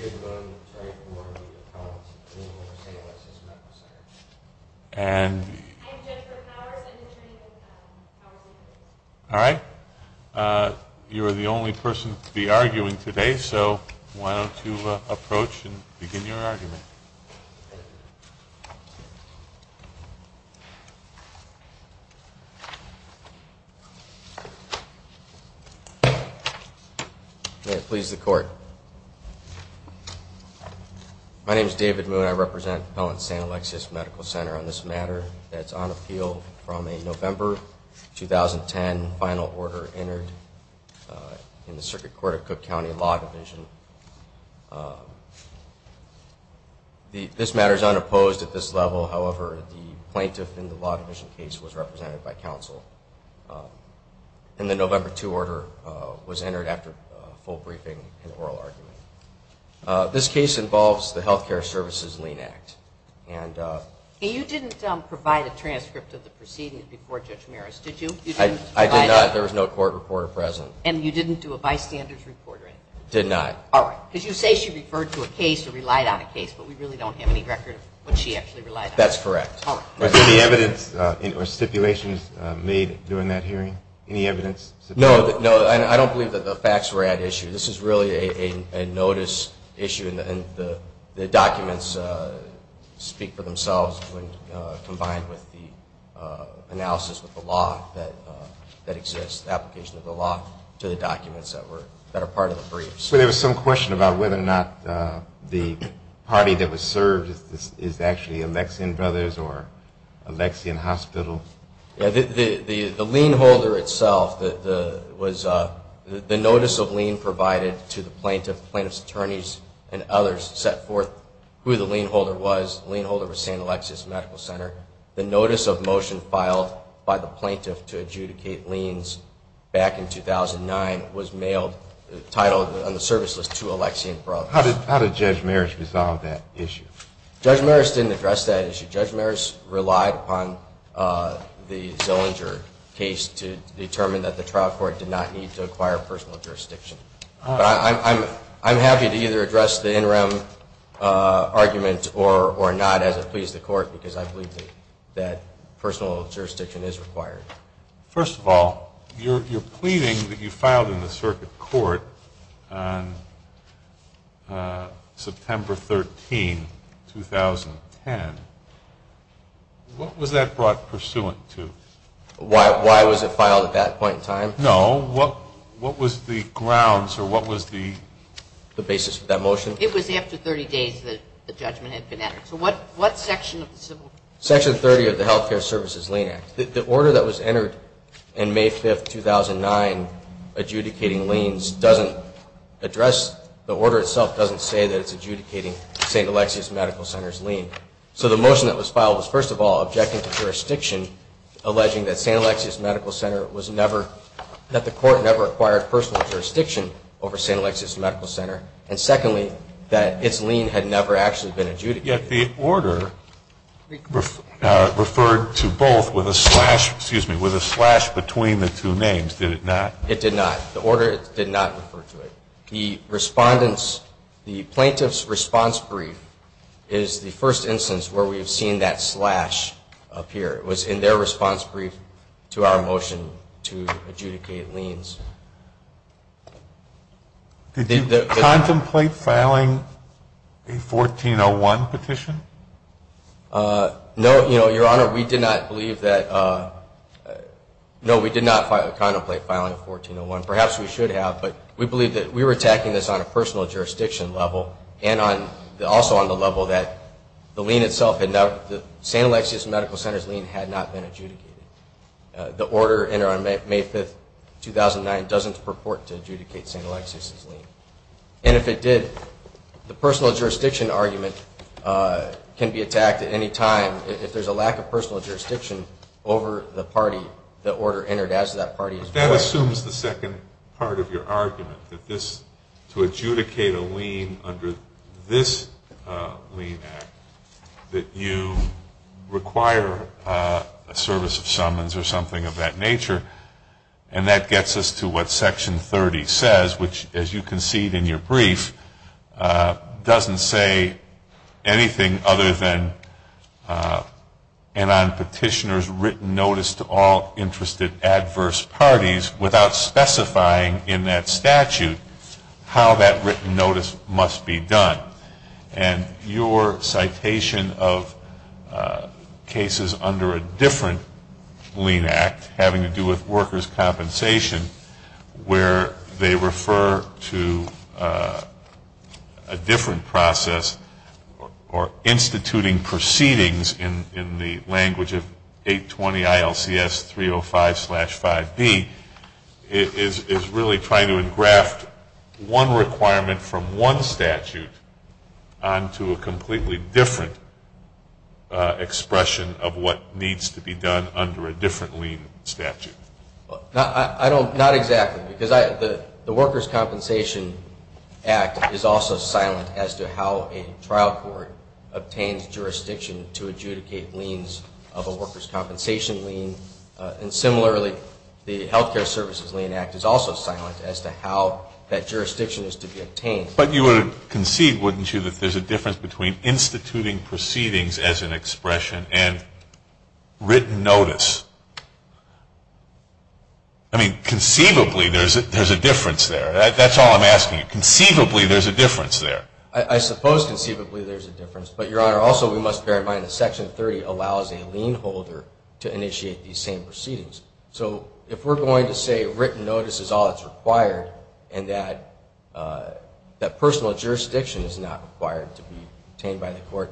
I'm here to vote on the attorney for Warren B. McConnell, and I'm going to say a lot since I met him last night. I'm Jennifer Powers. I'm the attorney for Powell. How are we doing? My name is David Moon. I represent Pellant-San Alexis Medical Center on this matter. It's on appeal from a November 2010 final order entered in the Circuit Court of Cook County Law Division. This matter is unopposed at this level. However, the plaintiff in the Law Division case was represented by counsel. And the November 2 order was entered after a full briefing and oral argument. This case involves the Health Care Services Lien Act. And you didn't provide a transcript of the proceedings before Judge Maris, did you? I did not. There was no court reporter present. And you didn't do a bystander's report, right? Did not. All right. Because you say she referred to a case or relied on a case, but we really don't have any record of what she actually relied on. That's correct. Was there any evidence or stipulations made during that hearing? Any evidence? No. I don't believe that the facts were at issue. This is really a notice issue. And the documents speak for themselves when combined with the analysis of the law that exists, the application of the law to the documents that are part of the briefs. There was some question about whether or not the party that was served is actually Alexian Brothers or Alexian Hospital. The lien holder itself, the notice of lien provided to the plaintiff, plaintiff's attorneys and others, set forth who the lien holder was. The lien holder was St. Alexis Medical Center. The notice of motion filed by the plaintiff to adjudicate liens back in 2009 was mailed, titled on the service list, to Alexian Brothers. How did Judge Maris resolve that issue? Judge Maris didn't address that issue. Judge Maris relied upon the Zillinger case to determine that the trial court did not need to acquire personal jurisdiction. I'm happy to either address the interim argument or not as it pleases the court because I believe that personal jurisdiction is required. First of all, you're pleading that you filed in the circuit court on September 13, 2010. What was that brought pursuant to? Why was it filed at that point in time? No. What was the grounds or what was the basis for that motion? It was after 30 days that the judgment had been entered. So what section of the Civil – Section 30 of the Health Care Services Lien Act. The order that was entered in May 5, 2009 adjudicating liens doesn't address – the order itself doesn't say that it's adjudicating St. Alexis Medical Center's lien. So the motion that was filed was, first of all, objecting to jurisdiction, alleging that St. Alexis Medical Center was never – that the court never acquired personal jurisdiction over St. Alexis Medical Center, and secondly, that its lien had never actually been adjudicated. Yet the order referred to both with a slash – excuse me – with a slash between the two names, did it not? It did not. The order did not refer to it. The respondent's – the plaintiff's response brief is the first instance where we've seen that slash appear. It was in their response brief to our motion to adjudicate liens. Did you contemplate filing a 1401 petition? No, you know, Your Honor, we did not believe that – no, we did not contemplate filing a 1401. Perhaps we should have, but we believe that we were attacking this on a personal jurisdiction level and on – also on the level that the lien itself had – the St. Alexis Medical Center's lien had not been adjudicated. The order entered on May 5, 2009 doesn't purport to adjudicate St. Alexis's lien. And if it did, the personal jurisdiction argument can be attacked at any time. If there's a lack of personal jurisdiction over the party, the order entered as to that party is – But that assumes the second part of your argument, that this – to adjudicate a lien under this lien act, that you require a service of summons or something of that nature. And that gets us to what Section 30 says, which, as you concede in your brief, doesn't say anything other than an unpetitioner's written notice to all interested adverse parties without specifying in that statute how that written notice must be done. And your citation of cases under a different lien act, having to do with workers' compensation, where they refer to a different process or instituting proceedings in the language of 820 ILCS 305-5B, is really trying to engraft one requirement from one statute onto a completely different expression of what needs to be done under a different lien statute. I don't – not exactly, because the Workers' Compensation Act is also silent as to how a trial court obtains jurisdiction to adjudicate liens of a workers' compensation lien. And similarly, the Health Care Services Lien Act is also silent as to how that jurisdiction is to be obtained. But you would concede, wouldn't you, that there's a difference between instituting proceedings as an expression and written notice? I mean, conceivably, there's a difference there. That's all I'm asking you. Conceivably, there's a difference there. I suppose conceivably there's a difference. But, Your Honor, also we must bear in mind that Section 30 allows a lien holder to initiate these same proceedings. So if we're going to say written notice is all that's required, and that personal jurisdiction is not required to be obtained by the court,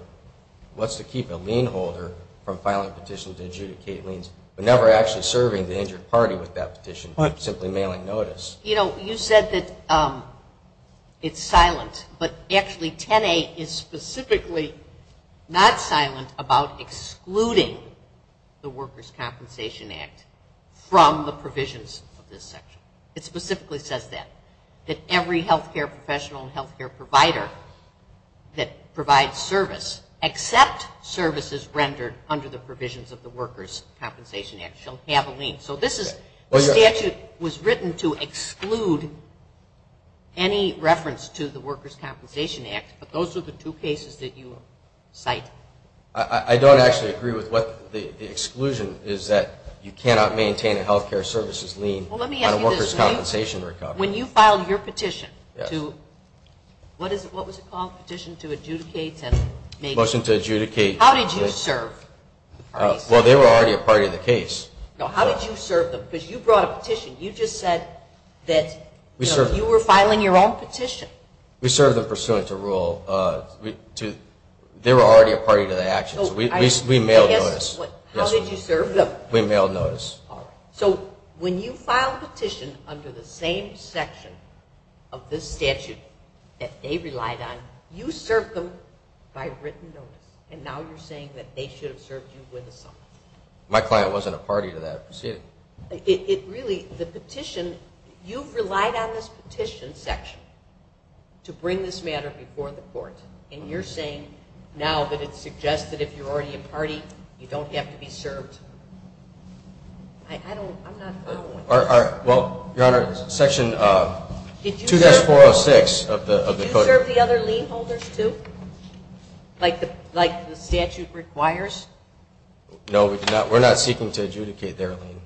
what's to keep a lien holder from filing a petition to adjudicate liens, but never actually serving the injured party with that petition, simply mailing notice? You know, you said that it's silent, but actually 10A is specifically not silent about excluding the Workers' Compensation Act from the provisions of this section. It specifically says that, that every health care professional and health care provider that provides service, except services rendered under the provisions of the Workers' Compensation Act, shall have a lien. So this statute was written to exclude any reference to the Workers' Compensation Act, but those are the two cases that you cite. I don't actually agree with what the exclusion is, that you cannot maintain a health care services lien on a Workers' Compensation recovery. When you filed your petition to, what was it called, petition to adjudicate? Motion to adjudicate. How did you serve? Well, they were already a part of the case. How did you serve them? Because you brought a petition. You just said that you were filing your own petition. We served them pursuant to rule. They were already a party to the action, so we mailed notice. How did you serve them? We mailed notice. All right. So when you filed a petition under the same section of this statute that they relied on, you served them by written notice, and now you're saying that they should have served you with a summary. My client wasn't a party to that proceeding. Really, the petition, you've relied on this petition section to bring this matter before the court, and you're saying now that it's suggested if you're already a party you don't have to be served. I'm not following. Well, Your Honor, Section 2-406 of the code. Did you serve the other lien holders too, like the statute requires? No, we're not seeking to adjudicate their lien.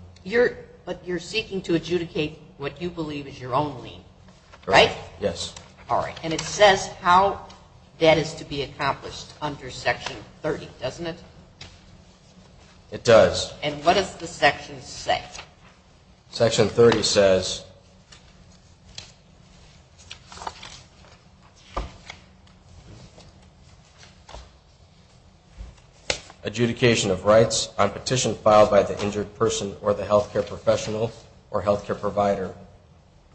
But you're seeking to adjudicate what you believe is your own lien, right? Yes. All right. And it says how that is to be accomplished under Section 30, doesn't it? It does. And what does the section say? Section 30 says, adjudication of rights on petition filed by the injured person or the health care professional or health care provider,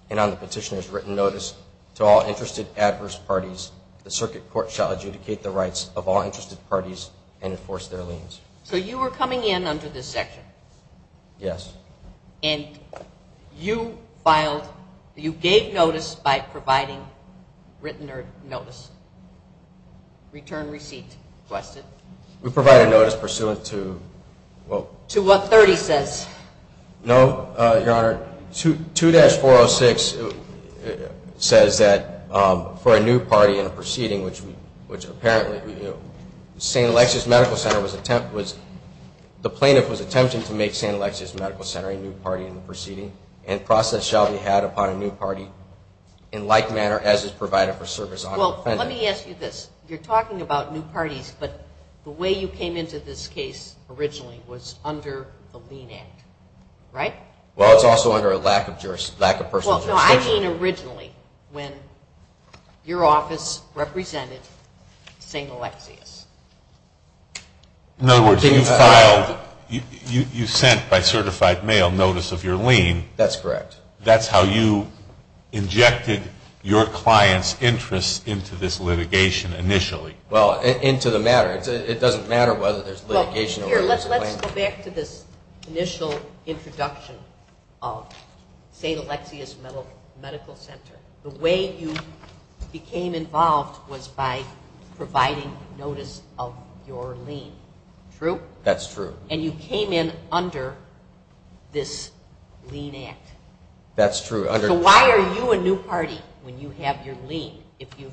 and on the petitioner's written notice to all interested adverse parties, the circuit court shall adjudicate the rights of all interested parties and enforce their liens. So you were coming in under this section? Yes. And you gave notice by providing written notice, return receipt requested? We provided notice pursuant to what? To what 30 says. No, Your Honor, 2-406 says that for a new party in a proceeding, which apparently the plaintiff was attempting to make St. Alexia's Medical Center a new party in the proceeding, and process shall be had upon a new party in like manner as is provided for service on the defendant. Well, let me ask you this. You're talking about new parties, but the way you came into this case originally was under the lien act, right? Well, it's also under a lack of personal jurisdiction. No, I mean originally when your office represented St. Alexia's. In other words, you filed, you sent by certified mail notice of your lien. That's correct. That's how you injected your client's interests into this litigation initially. Well, into the matter. Let's go back to this initial introduction of St. Alexia's Medical Center. The way you became involved was by providing notice of your lien, true? That's true. And you came in under this lien act. That's true. So why are you a new party when you have your lien if you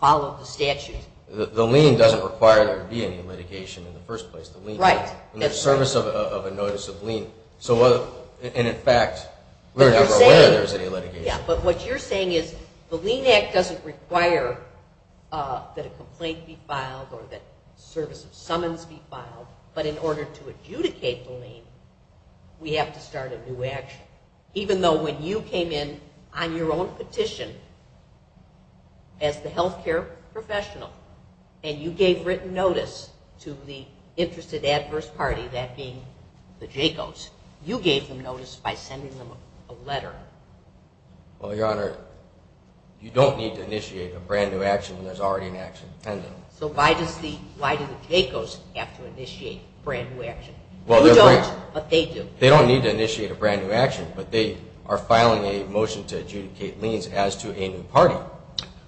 follow the statute? The lien doesn't require there to be any litigation in the first place. The lien acts in the service of a notice of lien. And, in fact, we're never aware there's any litigation. Yeah, but what you're saying is the lien act doesn't require that a complaint be filed or that service of summons be filed, but in order to adjudicate the lien, we have to start a new action. Even though when you came in on your own petition as the health care professional and you gave written notice to the interested adverse party, that being the JACOs, you gave them notice by sending them a letter. Well, Your Honor, you don't need to initiate a brand-new action when there's already an action pending. So why do the JACOs have to initiate a brand-new action? You don't, but they do. They don't need to initiate a brand-new action, but they are filing a motion to adjudicate liens as to a new party.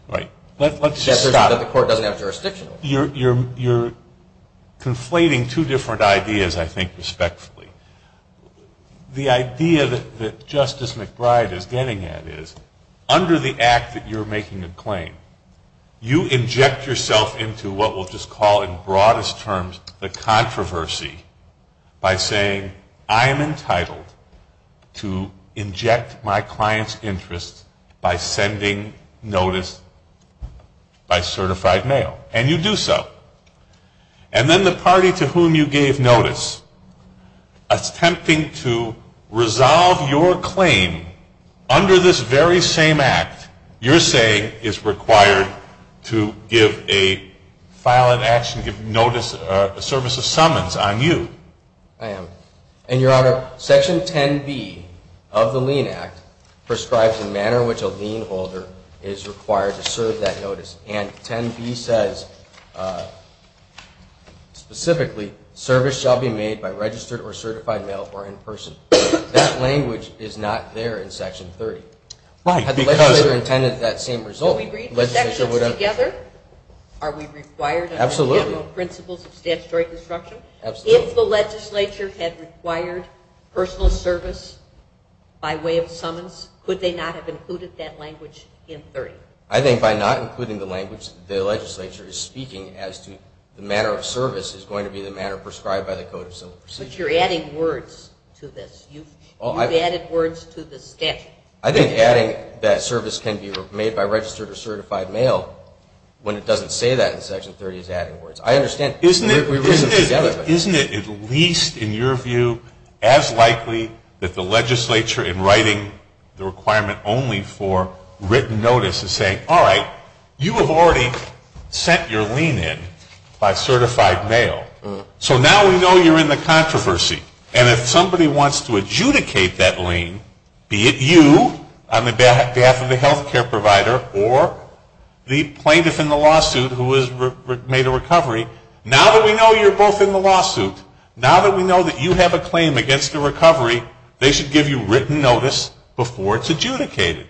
Right. Let's just stop. The court doesn't have jurisdiction. You're conflating two different ideas, I think, respectfully. The idea that Justice McBride is getting at is under the act that you're making a claim, you inject yourself into what we'll just call in broadest terms the controversy by saying, I am entitled to inject my client's interest by sending notice by certified mail. And you do so. And then the party to whom you gave notice, attempting to resolve your claim under this very same act, your saying is required to give a file of action, give notice, a service of summons on you. I am. And, Your Honor, Section 10B of the Lien Act prescribes the manner in which a lien holder is required to serve that notice. And 10B says specifically, service shall be made by registered or certified mail or in person. That language is not there in Section 30. Had the legislature intended that same result? Do we read the sections together? Are we required under the general principles of statutory construction? If the legislature had required personal service by way of summons, could they not have included that language in 30? I think by not including the language the legislature is speaking as to the manner of service is going to be the manner prescribed by the Code of Civil Procedure. But you're adding words to this. You've added words to the schedule. I think adding that service can be made by registered or certified mail when it doesn't say that in Section 30 is adding words. I understand. Isn't it at least, in your view, as likely that the legislature in writing the requirement only for written notice is saying, all right, you have already sent your lien in by certified mail. So now we know you're in the controversy. And if somebody wants to adjudicate that lien, be it you on behalf of the health care provider or the plaintiff in the lawsuit who has made a recovery, now that we know you're both in the lawsuit, now that we know that you have a claim against the recovery, they should give you written notice before it's adjudicated.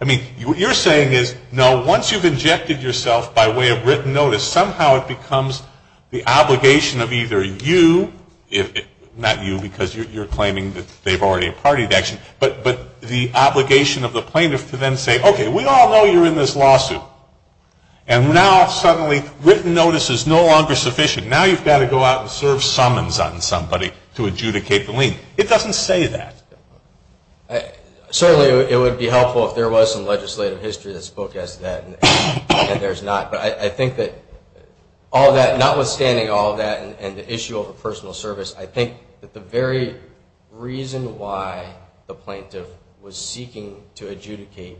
I mean, what you're saying is, no, once you've injected yourself by way of written notice, somehow it becomes the obligation of either you, not you because you're claiming that they've already partied action, but the obligation of the plaintiff to then say, okay, we all know you're in this lawsuit. And now suddenly written notice is no longer sufficient. Now you've got to go out and serve summons on somebody to adjudicate the lien. It doesn't say that. Certainly it would be helpful if there was some legislative history that spoke as to that, and there's not. But I think that all that, notwithstanding all that and the issue of a personal service, I think that the very reason why the plaintiff was seeking to adjudicate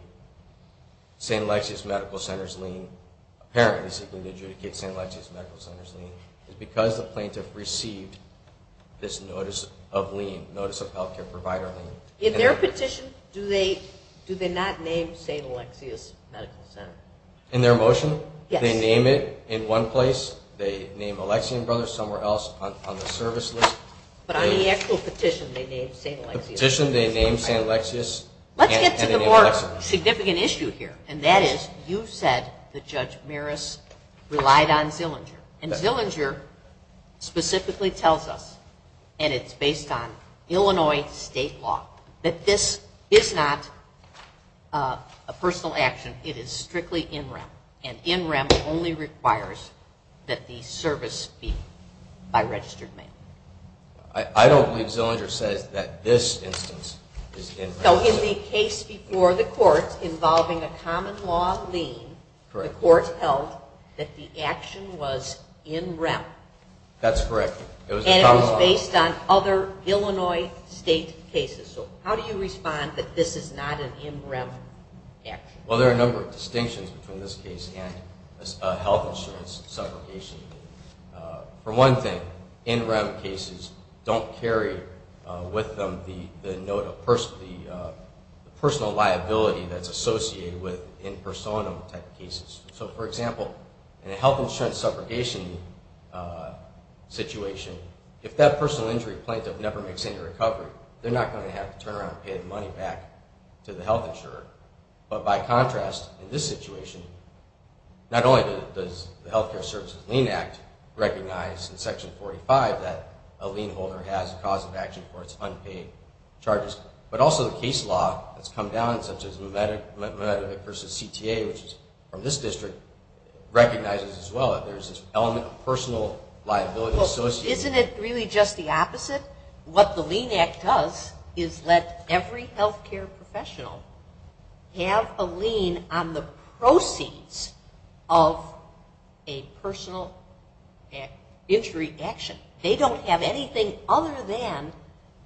St. Alexia's Medical Center's lien, apparently seeking to adjudicate St. Alexia's Medical Center's lien, is because the plaintiff received this notice of lien, notice of health care provider lien. In their petition, do they not name St. Alexia's Medical Center? In their motion? Yes. They name it in one place. They name Alexia and Brothers somewhere else on the service list. But on the actual petition they named St. Alexia's. The petition they named St. Alexia's. Let's get to the more significant issue here, and that is you said that Judge Maris relied on Zillinger. And Zillinger specifically tells us, and it's based on Illinois state law, that this is not a personal action. It is strictly in rem, and in rem only requires that the service be by registered mail. I don't believe Zillinger says that this instance is in rem. So in the case before the court involving a common law lien, the court held that the action was in rem. That's correct. And it was based on other Illinois state cases. So how do you respond that this is not an in rem action? Well, there are a number of distinctions between this case and a health insurance subrogation. For one thing, in rem cases don't carry with them the note of personal liability that's associated with impersonal type cases. So, for example, in a health insurance subrogation situation, if that personal injury plaintiff never makes any recovery, they're not going to have to turn around and pay the money back to the health insurer. But by contrast, in this situation, not only does the Health Care Services Lien Act recognize in Section 45 that a lien holder has a cause of action for its unpaid charges, but also the case law that's come down, such as Mamedovic v. CTA, which is from this district, recognizes as well that there's this element of personal liability associated. Isn't it really just the opposite? What the Lien Act does is let every health care professional have a lien on the proceeds of a personal injury action. They don't have anything other than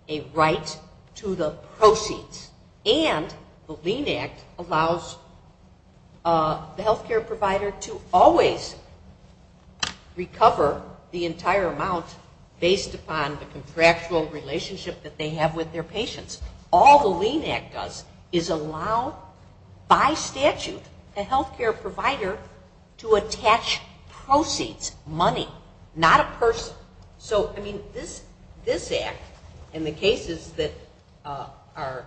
a right to the proceeds. And the Lien Act allows the health care provider to always recover the entire amount based upon the contractual relationship that they have with their patients. All the Lien Act does is allow, by statute, the health care provider to attach proceeds, money, not a person. So, I mean, this Act and the cases that are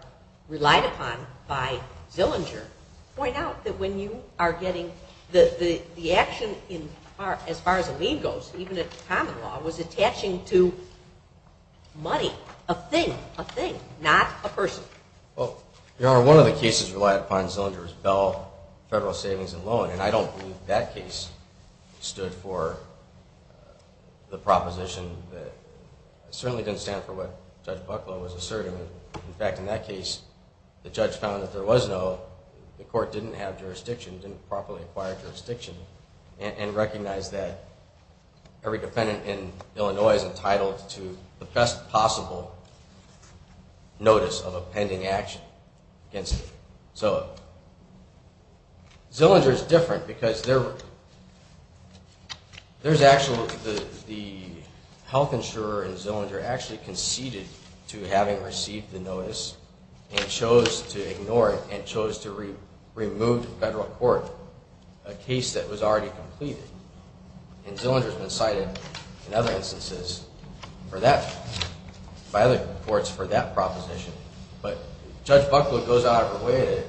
relied upon by Zillinger point out that when you are getting the action, as far as a lien goes, even in common law, was attaching to money, a thing, a thing, not a person. Well, Your Honor, one of the cases relied upon in Zillinger is Bell Federal Savings and Loan, and I don't believe that case stood for the proposition that certainly didn't stand for what Judge Bucklow was asserting. In fact, in that case, the judge found that there was no, the court didn't have jurisdiction, didn't properly acquire jurisdiction, and recognized that every defendant in Illinois is entitled to the best possible notice of a pending action against them. So, Zillinger is different because there's actually, the health insurer in Zillinger actually conceded to having received the notice and chose to ignore it and chose to remove the federal court, a case that was already completed. And Zillinger has been cited in other instances for that, by other courts for that proposition. But Judge Bucklow goes out of her way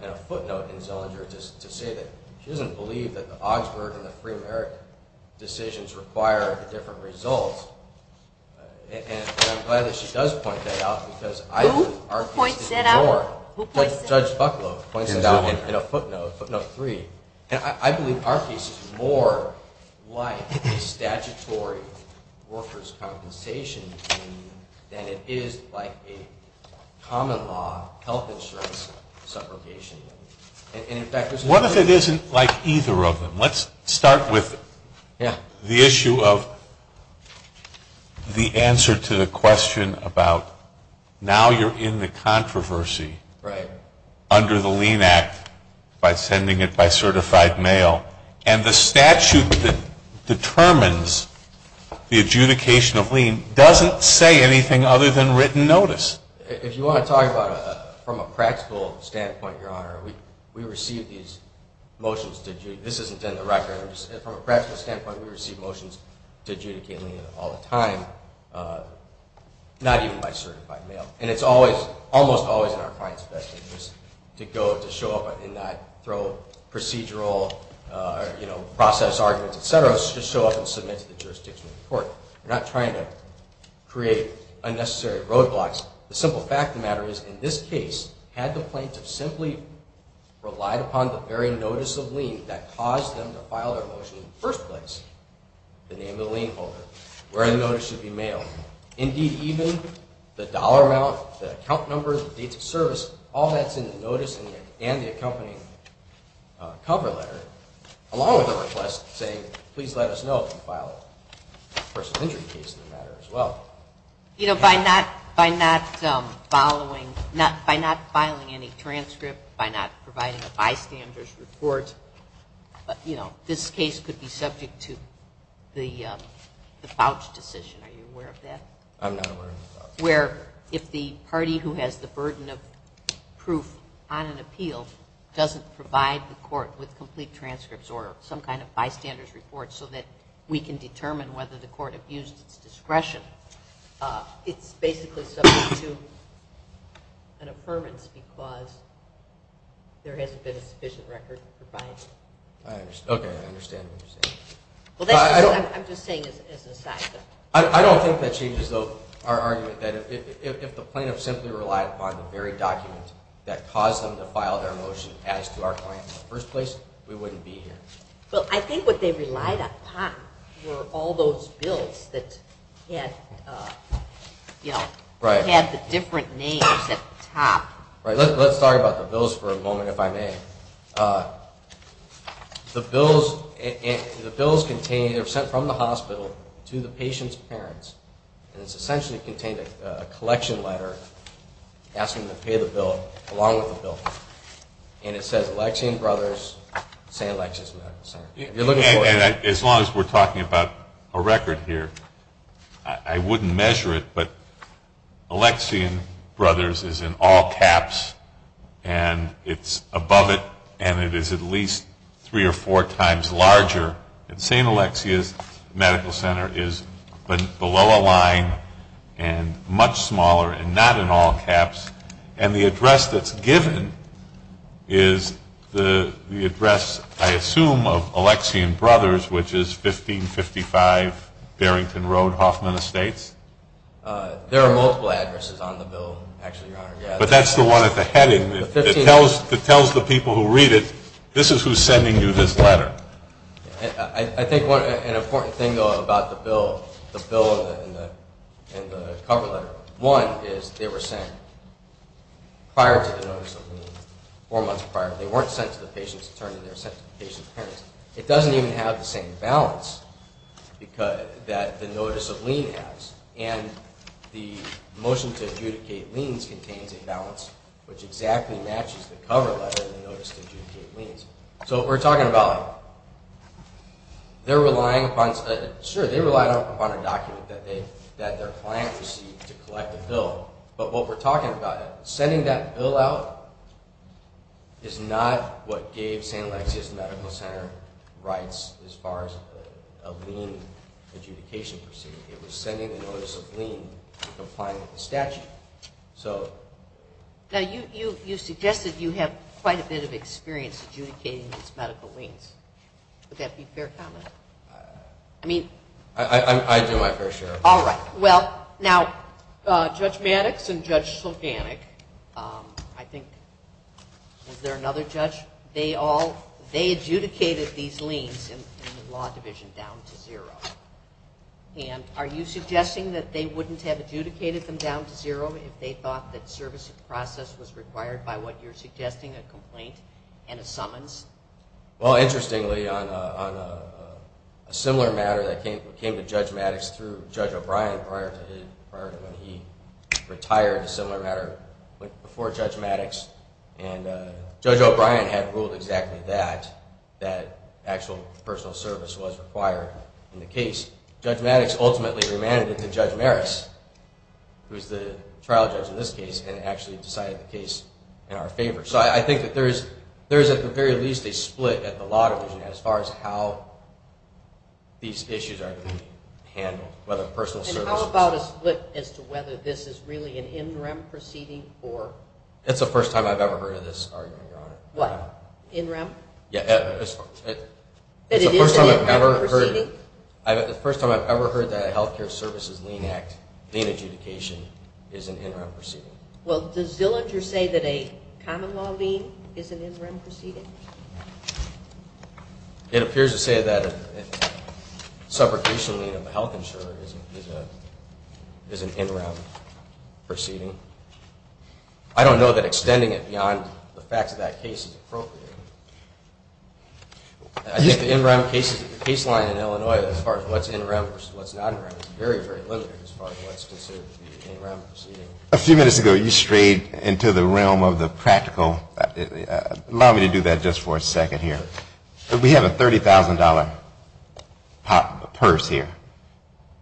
in a footnote in Zillinger to say that she doesn't believe that the Augsburg and the Free America decisions require different results. And I'm glad that she does point that out because I believe our case is more. Who points that out? Judge Bucklow points it out in a footnote, footnote three. And I believe our case is more like a statutory worker's compensation than it is like a common law health insurance subrogation. And in fact, there's no... What if it isn't like either of them? Let's start with the issue of the answer to the question about now you're in the controversy... Right. Under the Lien Act by sending it by certified mail. And the statute that determines the adjudication of lien doesn't say anything other than written notice. If you want to talk about it from a practical standpoint, Your Honor, we receive these motions to adjudicate. This isn't in the records. From a practical standpoint, we receive motions to adjudicate lien all the time, not even by certified mail. And it's almost always in our client's best interest to show up and not throw procedural process arguments, et cetera, to show up and submit to the jurisdiction of the court. We're not trying to create unnecessary roadblocks. The simple fact of the matter is in this case, had the plaintiff simply relied upon the very notice of lien that caused them to file their motion in the first place, the name of the lien holder, where the notice should be mailed, indeed even the dollar amount, the account number, the dates of service, all that's in the notice and the accompanying cover letter, along with a request saying please let us know if you file a person's injury case in the matter as well. You know, by not filing any transcript, by not providing a bystander's report, you know, this case could be subject to the vouch decision. Are you aware of that? I'm not aware of that. Where if the party who has the burden of proof on an appeal doesn't provide the court with complete transcripts or some kind of bystander's report so that we can determine whether the court abused its discretion, it's basically subject to an affirmance because there hasn't been a sufficient record provided. Okay, I understand what you're saying. I'm just saying as an aside. I don't think that changes, though, our argument that if the plaintiff simply relied upon the very document that caused them to file their motion as to our client in the first place, we wouldn't be here. Well, I think what they relied upon were all those bills that had the different names at the top. Let's talk about the bills for a moment, if I may. The bills contain, they're sent from the hospital to the patient's parents, and it's essentially contained a collection letter asking them to pay the bill along with the bill. And it says Alexian Brothers, St. Alexia's Medical Center. As long as we're talking about a record here, I wouldn't measure it, but Alexian Brothers is in all caps, and it's above it, and it is at least three or four times larger. St. Alexia's Medical Center is below a line and much smaller and not in all caps. And the address that's given is the address, I assume, of Alexian Brothers, which is 1555 Barrington Road, Hoffman Estates. There are multiple addresses on the bill, actually, Your Honor. But that's the one at the heading that tells the people who read it, this is who's sending you this letter. I think an important thing, though, about the bill and the cover letter, one is they were sent prior to the notice of lien, four months prior. They weren't sent to the patient's attorney, they were sent to the patient's parents. It doesn't even have the same balance that the notice of lien has, and the motion to adjudicate liens contains a balance which exactly matches the cover letter and the notice to adjudicate liens. So what we're talking about, they're relying upon a document that their client received to collect the bill. But what we're talking about, sending that bill out is not what gave St. Alexia's Medical Center rights as far as a lien adjudication proceeding. It was sending a notice of lien and complying with the statute. Now, you suggested you have quite a bit of experience adjudicating these medical liens. Would that be a fair comment? I do, I assure you. All right. Well, now, Judge Maddox and Judge Sulganic, I think, was there another judge? They adjudicated these liens in the law division down to zero. And are you suggesting that they wouldn't have adjudicated them down to zero if they thought that service of the process was required by what you're suggesting, a complaint and a summons? Well, interestingly, on a similar matter that came to Judge Maddox through Judge O'Brien prior to when he retired, a similar matter went before Judge Maddox, and Judge O'Brien had ruled exactly that, that actual personal service was required in the case. Judge Maddox ultimately remanded it to Judge Maris, who is the trial judge in this case, and actually decided the case in our favor. So I think that there is at the very least a split at the law division as far as how these issues are being handled, whether personal service is required. And how about a split as to whether this is really an in rem proceeding or? It's the first time I've ever heard of this argument, Your Honor. What? In rem? Yeah. But it is an in rem proceeding? It's the first time I've ever heard that a health care services lien adjudication is an in rem proceeding. Well, does Zillinger say that a common law lien is an in rem proceeding? It appears to say that a subrogation lien of a health insurer is an in rem proceeding. I don't know that extending it beyond the facts of that case is appropriate. I think the in rem case line in Illinois as far as what's in rem versus what's not in rem is very, very limited as far as what's considered to be an in rem proceeding. A few minutes ago you strayed into the realm of the practical. Allow me to do that just for a second here. We have a $30,000 purse here.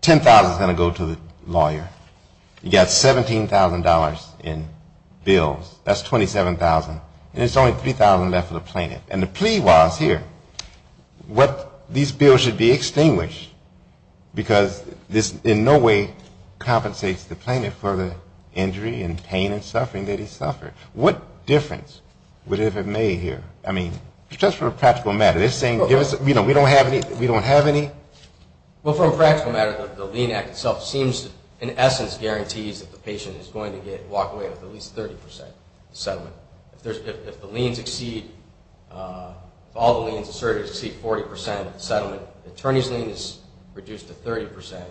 $10,000 is going to go to the lawyer. You've got $17,000 in bills. That's $27,000. And there's only $3,000 left for the plaintiff. And the plea was here, what these bills should be extinguished because this in no way compensates the plaintiff for the injury and pain and suffering that he suffered. What difference would it have made here? I mean, just for a practical matter. They're saying, you know, we don't have any. Well, for a practical matter, the lien act itself seems in essence guarantees that the patient is going to get walked away with at least 30% settlement. If the liens exceed, if all the liens asserted exceed 40% settlement, the attorney's lien is reduced to 30%.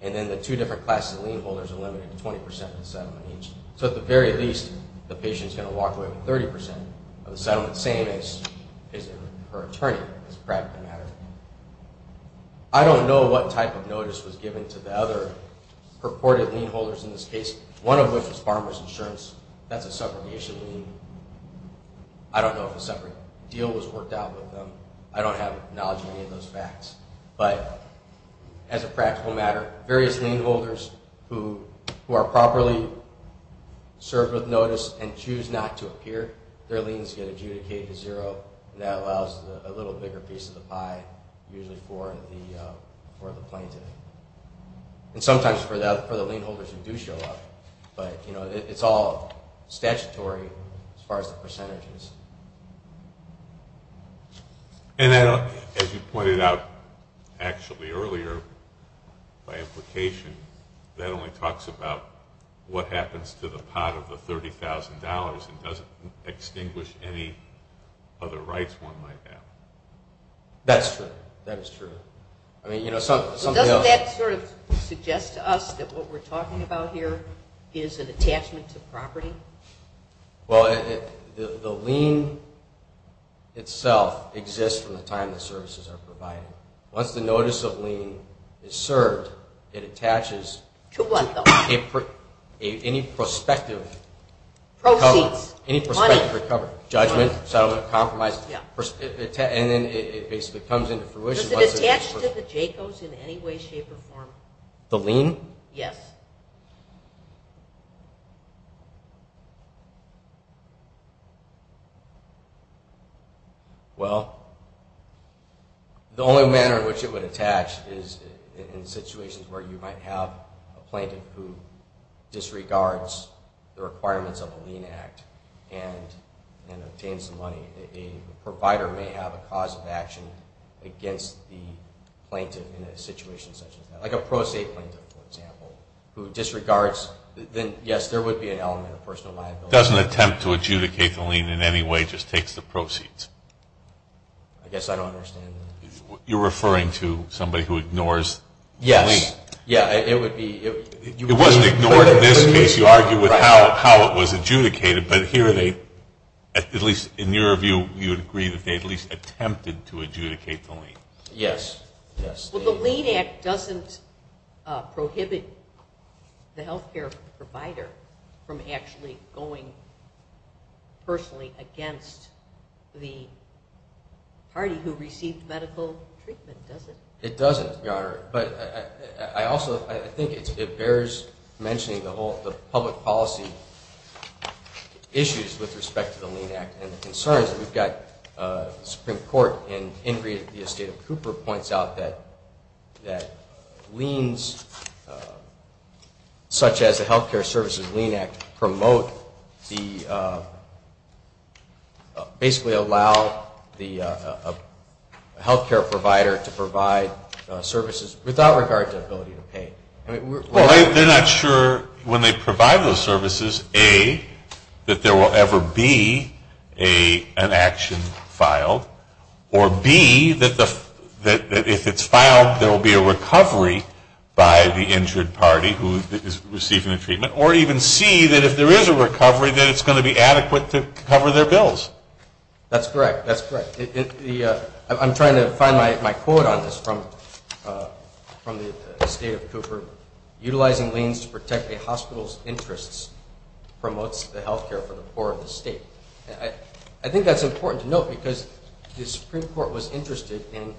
And then the two different classes of lien holders are limited to 20% of the settlement each. So at the very least, the patient is going to walk away with 30% of the settlement, same as her attorney, as a practical matter. I don't know what type of notice was given to the other purported lien holders in this case, one of which was farmer's insurance. That's a subrogation lien. I don't know if a separate deal was worked out with them. I don't have knowledge of any of those facts. But as a practical matter, various lien holders who are properly served with notice and choose not to appear, their liens get adjudicated to zero, and that allows a little bigger piece of the pie usually for the plaintiff. And sometimes for the lien holders who do show up. But it's all statutory as far as the percentages. And as you pointed out actually earlier, by implication, that only talks about what happens to the pot of the $30,000 and doesn't extinguish any other rights one might have. That's true. That is true. Doesn't that sort of suggest to us that what we're talking about here is an attachment to property? Well, the lien itself exists from the time the services are provided. Once the notice of lien is served, it attaches to any prospective recovery. Judgment, settlement, compromise, and then it basically comes into fruition. Does it attach to the JCOs in any way, shape, or form? The lien? Yes. Well, the only manner in which it would attach is in situations where you might have a plaintiff who disregards the requirements of a lien act and obtains the money. A provider may have a cause of action against the plaintiff in a situation such as that. Like a pro se plaintiff, for example, who disregards. Then, yes, there would be an element of personal liability. Doesn't attempt to adjudicate the lien in any way, just takes the proceeds? I guess I don't understand. You're referring to somebody who ignores the lien? Yes. Yeah, it would be. It wasn't ignored in this case. You argue with how it was adjudicated. But here they, at least in your view, you would agree that they at least attempted to adjudicate the lien. Yes. Well, the lien act doesn't prohibit the health care provider from actually going personally against the party who received medical treatment, does it? It doesn't, Your Honor. But I also think it bears mentioning the public policy issues with respect to the lien act. And the concerns that we've got, the Supreme Court in Ingrid v. Cooper points out that liens, such as the Health Care Services Lien Act, promote the, basically allow the health care provider to provide services without regard to ability to pay. Well, they're not sure when they provide those services, A, that there will ever be an action filed, or B, that if it's filed there will be a recovery by the injured party who is receiving the treatment, or even C, that if there is a recovery that it's going to be adequate to cover their bills. That's correct. That's correct. I'm trying to find my quote on this from the State of Cooper. Utilizing liens to protect a hospital's interests promotes the health care for the poor of the state. I think that's important to note because the Supreme Court was interested in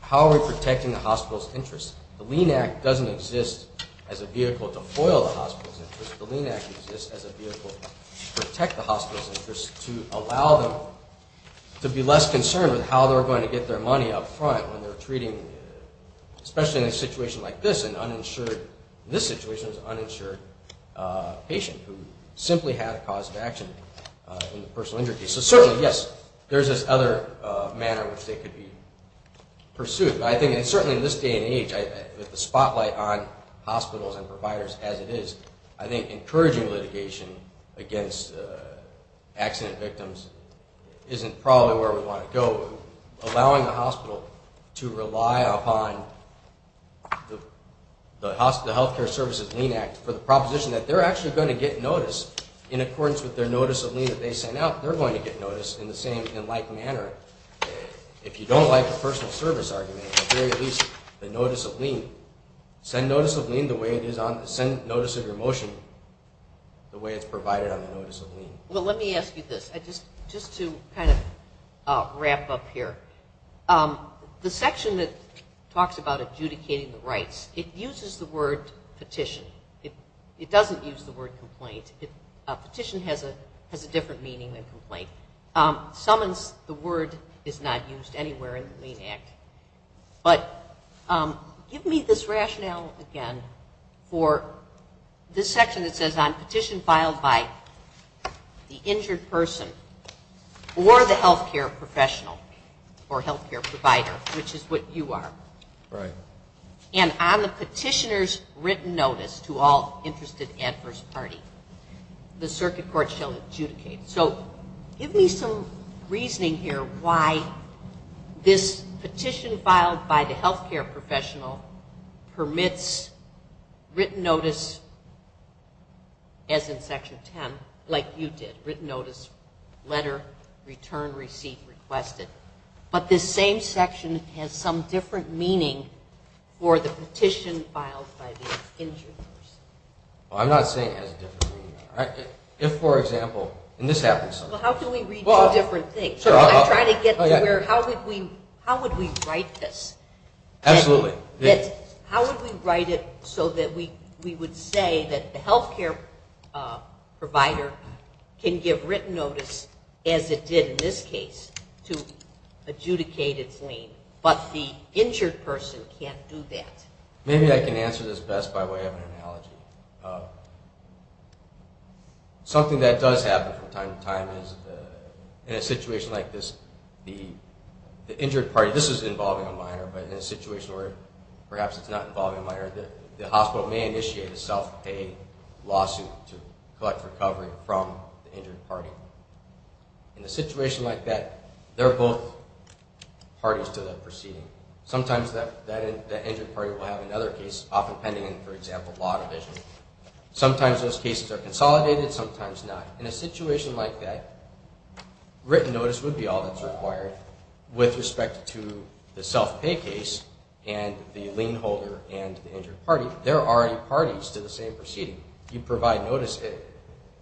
how are we protecting the hospital's interests. The lien act doesn't exist as a vehicle to foil the hospital's interests. The lien act exists as a vehicle to protect the hospital's interests, to allow them to be less concerned with how they're going to get their money up front when they're treating, especially in a situation like this, an uninsured, in this situation it was an uninsured patient who simply had a cause of action in the personal injury case. So certainly, yes, there's this other manner in which they could be pursued. I think certainly in this day and age, with the spotlight on hospitals and providers as it is, I think encouraging litigation against accident victims isn't probably where we want to go. Allowing a hospital to rely upon the Health Care Services Lien Act for the proposition that they're actually going to get notice in accordance with their notice of lien that they sent out, they're going to get notice in the same and like manner. If you don't like the personal service argument, at the very least the notice of lien, send notice of lien the way it is on, send notice of your motion the way it's provided on the notice of lien. Well, let me ask you this. Just to kind of wrap up here. The section that talks about adjudicating the rights, it uses the word petition. It doesn't use the word complaint. Petition has a different meaning than complaint. Summons, the word is not used anywhere in the lien act. But give me this rationale again for this section that says on petition filed by the injured person or the health care professional or health care provider, which is what you are. And on the petitioner's written notice to all interested adverse party, the circuit court shall adjudicate. So give me some reasoning here why this petition filed by the health care professional permits written notice as in section 10, like you did, written notice, letter, return, receipt, requested. But this same section has some different meaning for the petition filed by the injured person. Well, I'm not saying it has a different meaning. If, for example, and this happens sometimes. Well, how can we read two different things? I'm trying to get to where how would we write this? Absolutely. How would we write it so that we would say that the health care provider can give written notice as it did in this case to adjudicate its lien, but the injured person can't do that? Maybe I can answer this best by way of an analogy. Something that does happen from time to time is in a situation like this, the injured party, this is involving a minor, but in a situation where perhaps it's not involving a minor, the hospital may initiate a self-paid lawsuit to collect recovery from the injured party. In a situation like that, they're both parties to the proceeding. Sometimes that injured party will have another case, often pending in, for example, law division. Sometimes those cases are consolidated, sometimes not. In a situation like that, written notice would be all that's required with respect to the self-pay case and the lien holder and the injured party. They're already parties to the same proceeding. You provide notice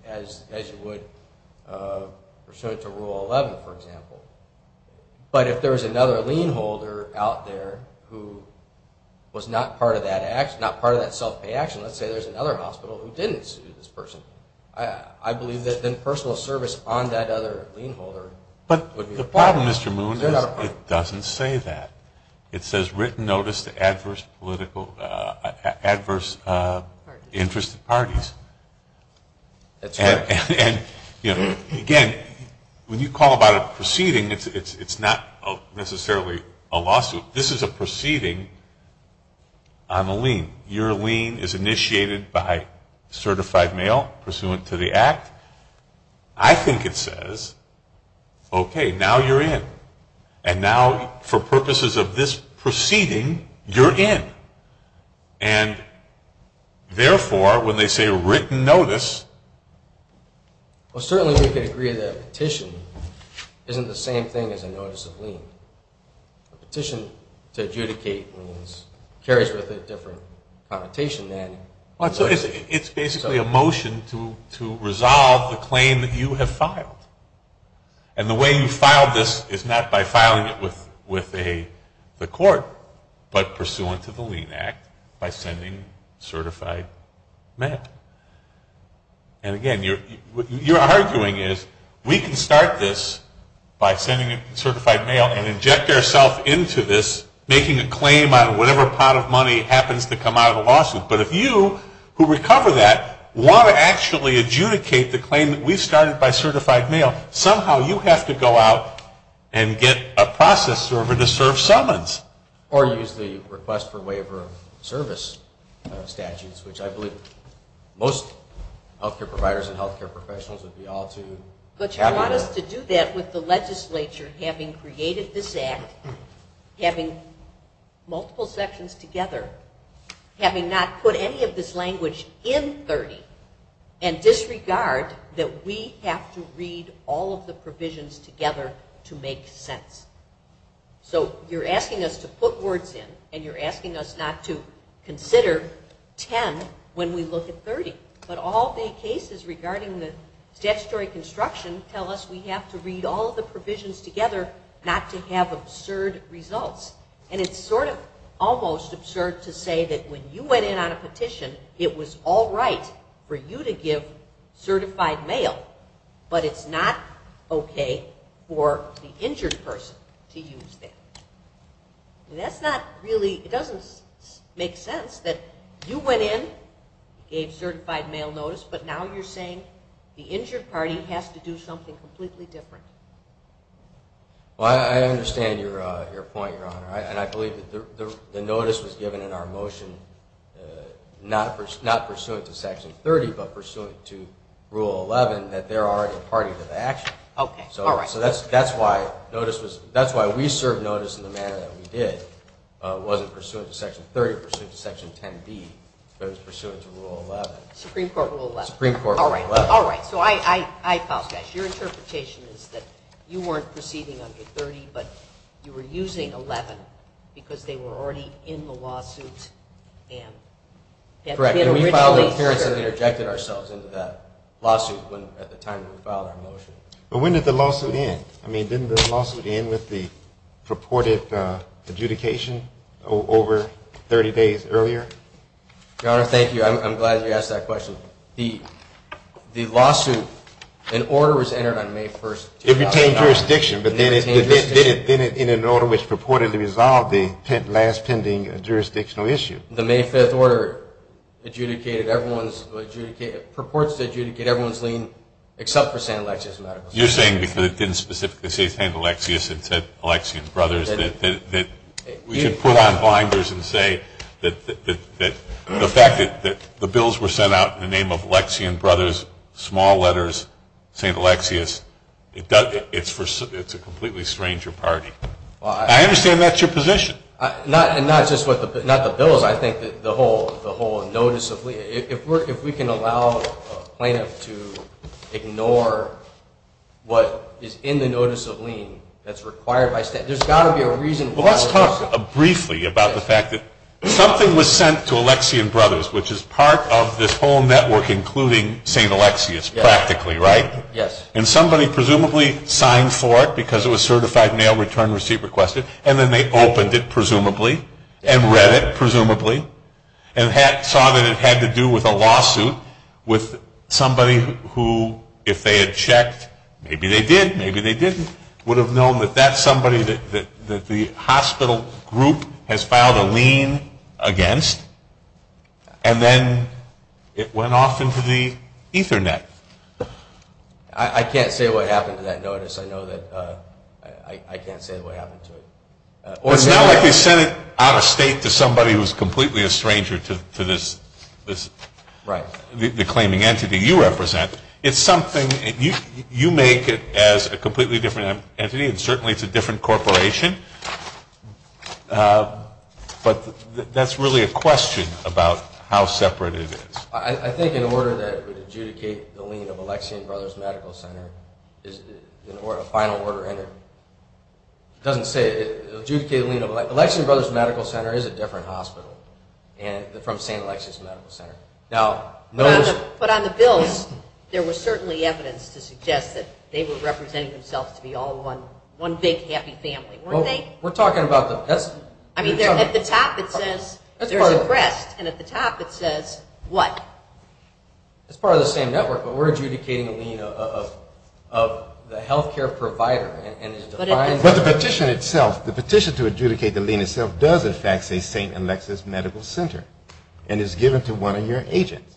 as you would pursuant to Rule 11, for example. But if there was another lien holder out there who was not part of that self-pay action, let's say there's another hospital who didn't sue this person, I believe that then personal service on that other lien holder would be required. But the problem, Mr. Moon, is it doesn't say that. It says written notice to adverse political, adverse interest parties. That's right. Again, when you call about a proceeding, it's not necessarily a lawsuit. This is a proceeding on a lien. Your lien is initiated by certified mail pursuant to the Act. I think it says, okay, now you're in. And now for purposes of this proceeding, you're in. And, therefore, when they say written notice. Well, certainly we can agree that a petition isn't the same thing as a notice of lien. A petition to adjudicate liens carries with it a different connotation than. It's basically a motion to resolve the claim that you have filed. And the way you filed this is not by filing it with the court, but pursuant to the lien Act by sending certified mail. And, again, what you're arguing is we can start this by sending certified mail and inject ourself into this making a claim on whatever pot of money happens to come out of the lawsuit. But if you, who recover that, want to actually adjudicate the claim that we started by certified mail, somehow you have to go out and get a process server to serve summons. Or use the request for waiver of service statutes, which I believe most health care providers and health care professionals would be all too happy with. But you want us to do that with the legislature having created this Act, having multiple sections together, having not put any of this language in 30, and disregard that we have to read all of the provisions together to make sense. So you're asking us to put words in and you're asking us not to consider 10 when we look at 30. But all the cases regarding the statutory construction tell us we have to read all of the provisions together not to have absurd results. And it's sort of almost absurd to say that when you went in on a petition, it was all right for you to give certified mail, but it's not okay for the injured person to use that. That's not really, it doesn't make sense that you went in, gave certified mail notice, but now you're saying the injured party has to do something completely different. Well, I understand your point, Your Honor. And I believe the notice was given in our motion not pursuant to Section 30, but pursuant to Rule 11 that they're already party to the action. So that's why we served notice in the manner that we did. It wasn't pursuant to Section 30, it was pursuant to Section 10B, but it was pursuant to Rule 11. Supreme Court Rule 11. Supreme Court Rule 11. All right, all right. So I apologize. Your interpretation is that you weren't proceeding under 30, but you were using 11 because they were already in the lawsuit. Correct. And we filed an appearance and we rejected ourselves into that lawsuit at the time we filed our motion. But when did the lawsuit end? I mean, didn't the lawsuit end with the purported adjudication over 30 days earlier? Your Honor, thank you. I'm glad you asked that question. The lawsuit, an order was entered on May 1st. It retained jurisdiction, but then it did it in an order which purported to resolve the last pending jurisdictional issue. The May 5th order adjudicated everyone's lean except for San Alexis Medical Center. You're saying because it didn't specifically say San Alexius, it said Alexian Brothers, that we should put on blinders and say that the fact that the bills were sent out in the name of Alexian Brothers, small letters, San Alexius, it's a completely stranger party. I understand that's your position. Not just the bills, I think the whole notice of lien. If we can allow a plaintiff to ignore what is in the notice of lien that's required by statute, there's got to be a reason. Well, let's talk briefly about the fact that something was sent to Alexian Brothers, which is part of this whole network, including San Alexius, practically, right? Yes. And somebody presumably signed for it because it was certified mail return receipt requested, and then they opened it, presumably, and read it, presumably, and saw that it had to do with a lawsuit with somebody who, if they had checked, maybe they did, maybe they didn't, would have known that that's somebody that the hospital group has filed a lien against, and then it went off into the Ethernet. I can't say what happened to that notice. I know that I can't say what happened to it. Well, it's not like they sent it out of state to somebody who's completely a stranger to this. Right. The claiming entity you represent. It's something you make it as a completely different entity, and certainly it's a different corporation, but that's really a question about how separate it is. I think an order that would adjudicate the lien of Alexian Brothers Medical Center is a final order, and it doesn't say adjudicate a lien of Alexian Brothers Medical Center is a different hospital from San Alexius Medical Center. But on the bills, there was certainly evidence to suggest that they were representing themselves to be all one big happy family, weren't they? We're talking about the best. I mean, at the top it says there's a crest, and at the top it says what? It's part of the same network, but we're adjudicating a lien of the health care provider. But the petition itself, the petition to adjudicate the lien itself does in fact say San Alexius Medical Center and is given to one of your agents.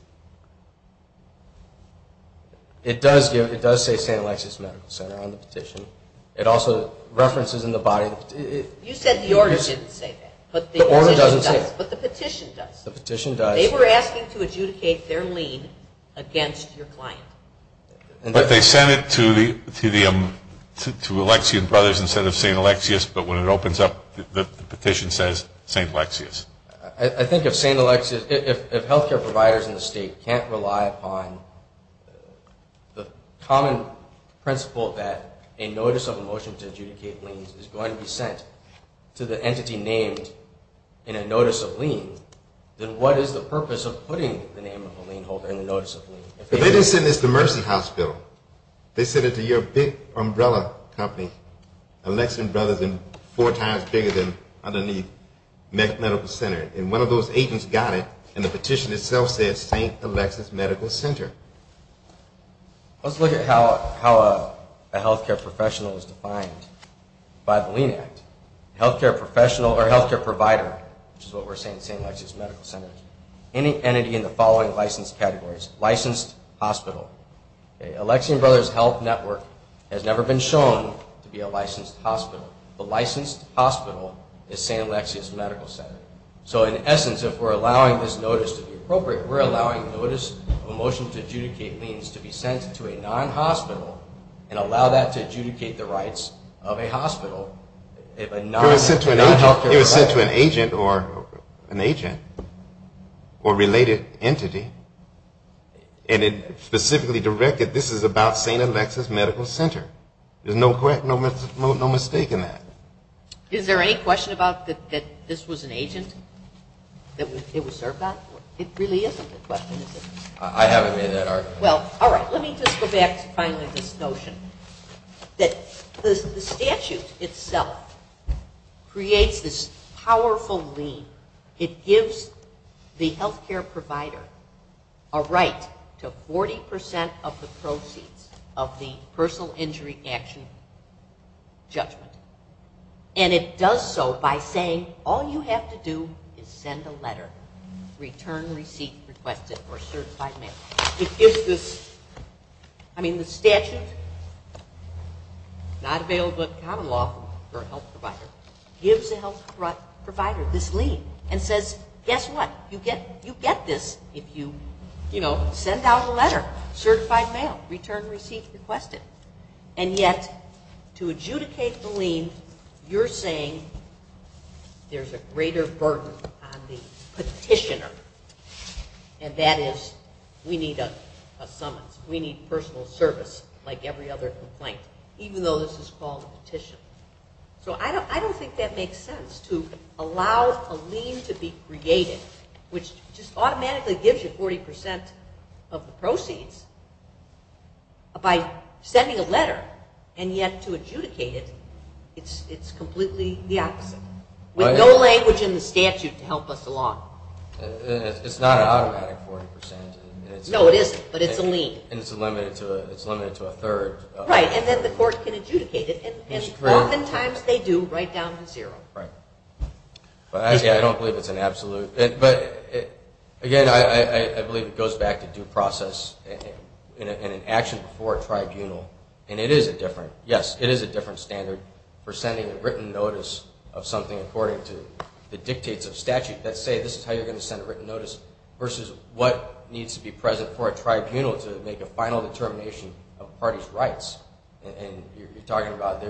It does say San Alexius Medical Center on the petition. It also references in the body. You said the order didn't say that. The order doesn't say that. But the petition does. The petition does. They were asking to adjudicate their lien against your client. But they sent it to Alexian Brothers instead of San Alexius, but when it opens up, the petition says San Alexius. I think if San Alexius, if health care providers in the state can't rely upon the common principle that a notice of a motion to adjudicate liens is going to be sent to the entity named in a notice of lien, then what is the purpose of putting the name of a lien holder in the notice of lien? But they didn't send this to Mercy Hospital. They sent it to your big umbrella company, Alexian Brothers and four times bigger than underneath Medical Center. And one of those agents got it, and the petition itself says San Alexius Medical Center. Let's look at how a health care professional is defined by the lien act. A health care professional or health care provider, which is what we're saying, San Alexius Medical Center, any entity in the following licensed categories, licensed hospital. Alexian Brothers Health Network has never been shown to be a licensed hospital. The licensed hospital is San Alexius Medical Center. So in essence, if we're allowing this notice to be appropriate, we're allowing a notice of a motion to adjudicate liens to be sent to a non-hospital and allow that to adjudicate the rights of a hospital. It was sent to an agent or related entity, and it specifically directed this is about San Alexius Medical Center. There's no mistake in that. Is there any question about that this was an agent that it was served on? It really isn't a question, is it? I haven't made that argument. Well, all right. Let me just go back to finally this notion that the statute itself creates this powerful lien. It gives the health care provider a right to 40% of the proceeds of the personal injury action judgment. And it does so by saying all you have to do is send a letter, return receipt requested or certified mail. It gives this, I mean the statute, not available in common law for a health provider, gives a health care provider this lien and says, guess what, you get this if you, you know, send out a letter, certified mail, return receipt requested. And yet to adjudicate the lien, you're saying there's a greater burden on the petitioner, and that is we need a summons, we need personal service like every other complaint, even though this is called a petition. So I don't think that makes sense to allow a lien to be created, which just automatically gives you 40% of the proceeds by sending a letter, and yet to adjudicate it, it's completely the opposite. With no language in the statute to help us along. It's not an automatic 40%. No, it isn't, but it's a lien. And it's limited to a third. Right, and then the court can adjudicate it, and oftentimes they do right down to zero. Right. But I don't believe it's an absolute. But again, I believe it goes back to due process in an action before a tribunal, and it is a different, yes, it is a different standard for sending a written notice of something according to the dictates of statute that say this is how you're going to send a written notice versus what needs to be present for a tribunal to make a final determination of a party's rights. And you're talking about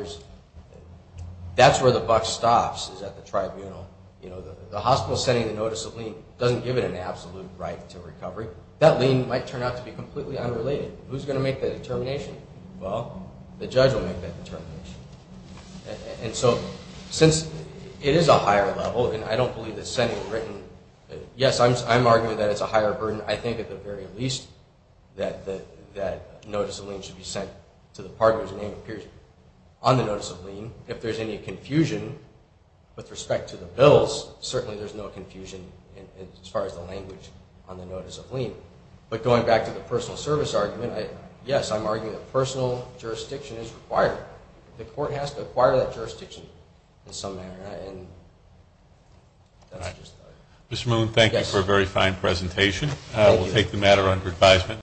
that's where the buck stops is at the tribunal. You know, the hospital sending the notice of lien doesn't give it an absolute right to recovery. That lien might turn out to be completely unrelated. Who's going to make that determination? Well, the judge will make that determination. And so since it is a higher level, and I don't believe it's sending a written, yes, I'm arguing that it's a higher burden. I think at the very least that notice of lien should be sent to the partner's name and period. On the notice of lien, if there's any confusion with respect to the bills, certainly there's no confusion as far as the language on the notice of lien. But going back to the personal service argument, yes, I'm arguing that personal jurisdiction is required. The court has to acquire that jurisdiction in some manner. Mr. Moon, thank you for a very fine presentation. Thank you. We'll take the matter under advisement.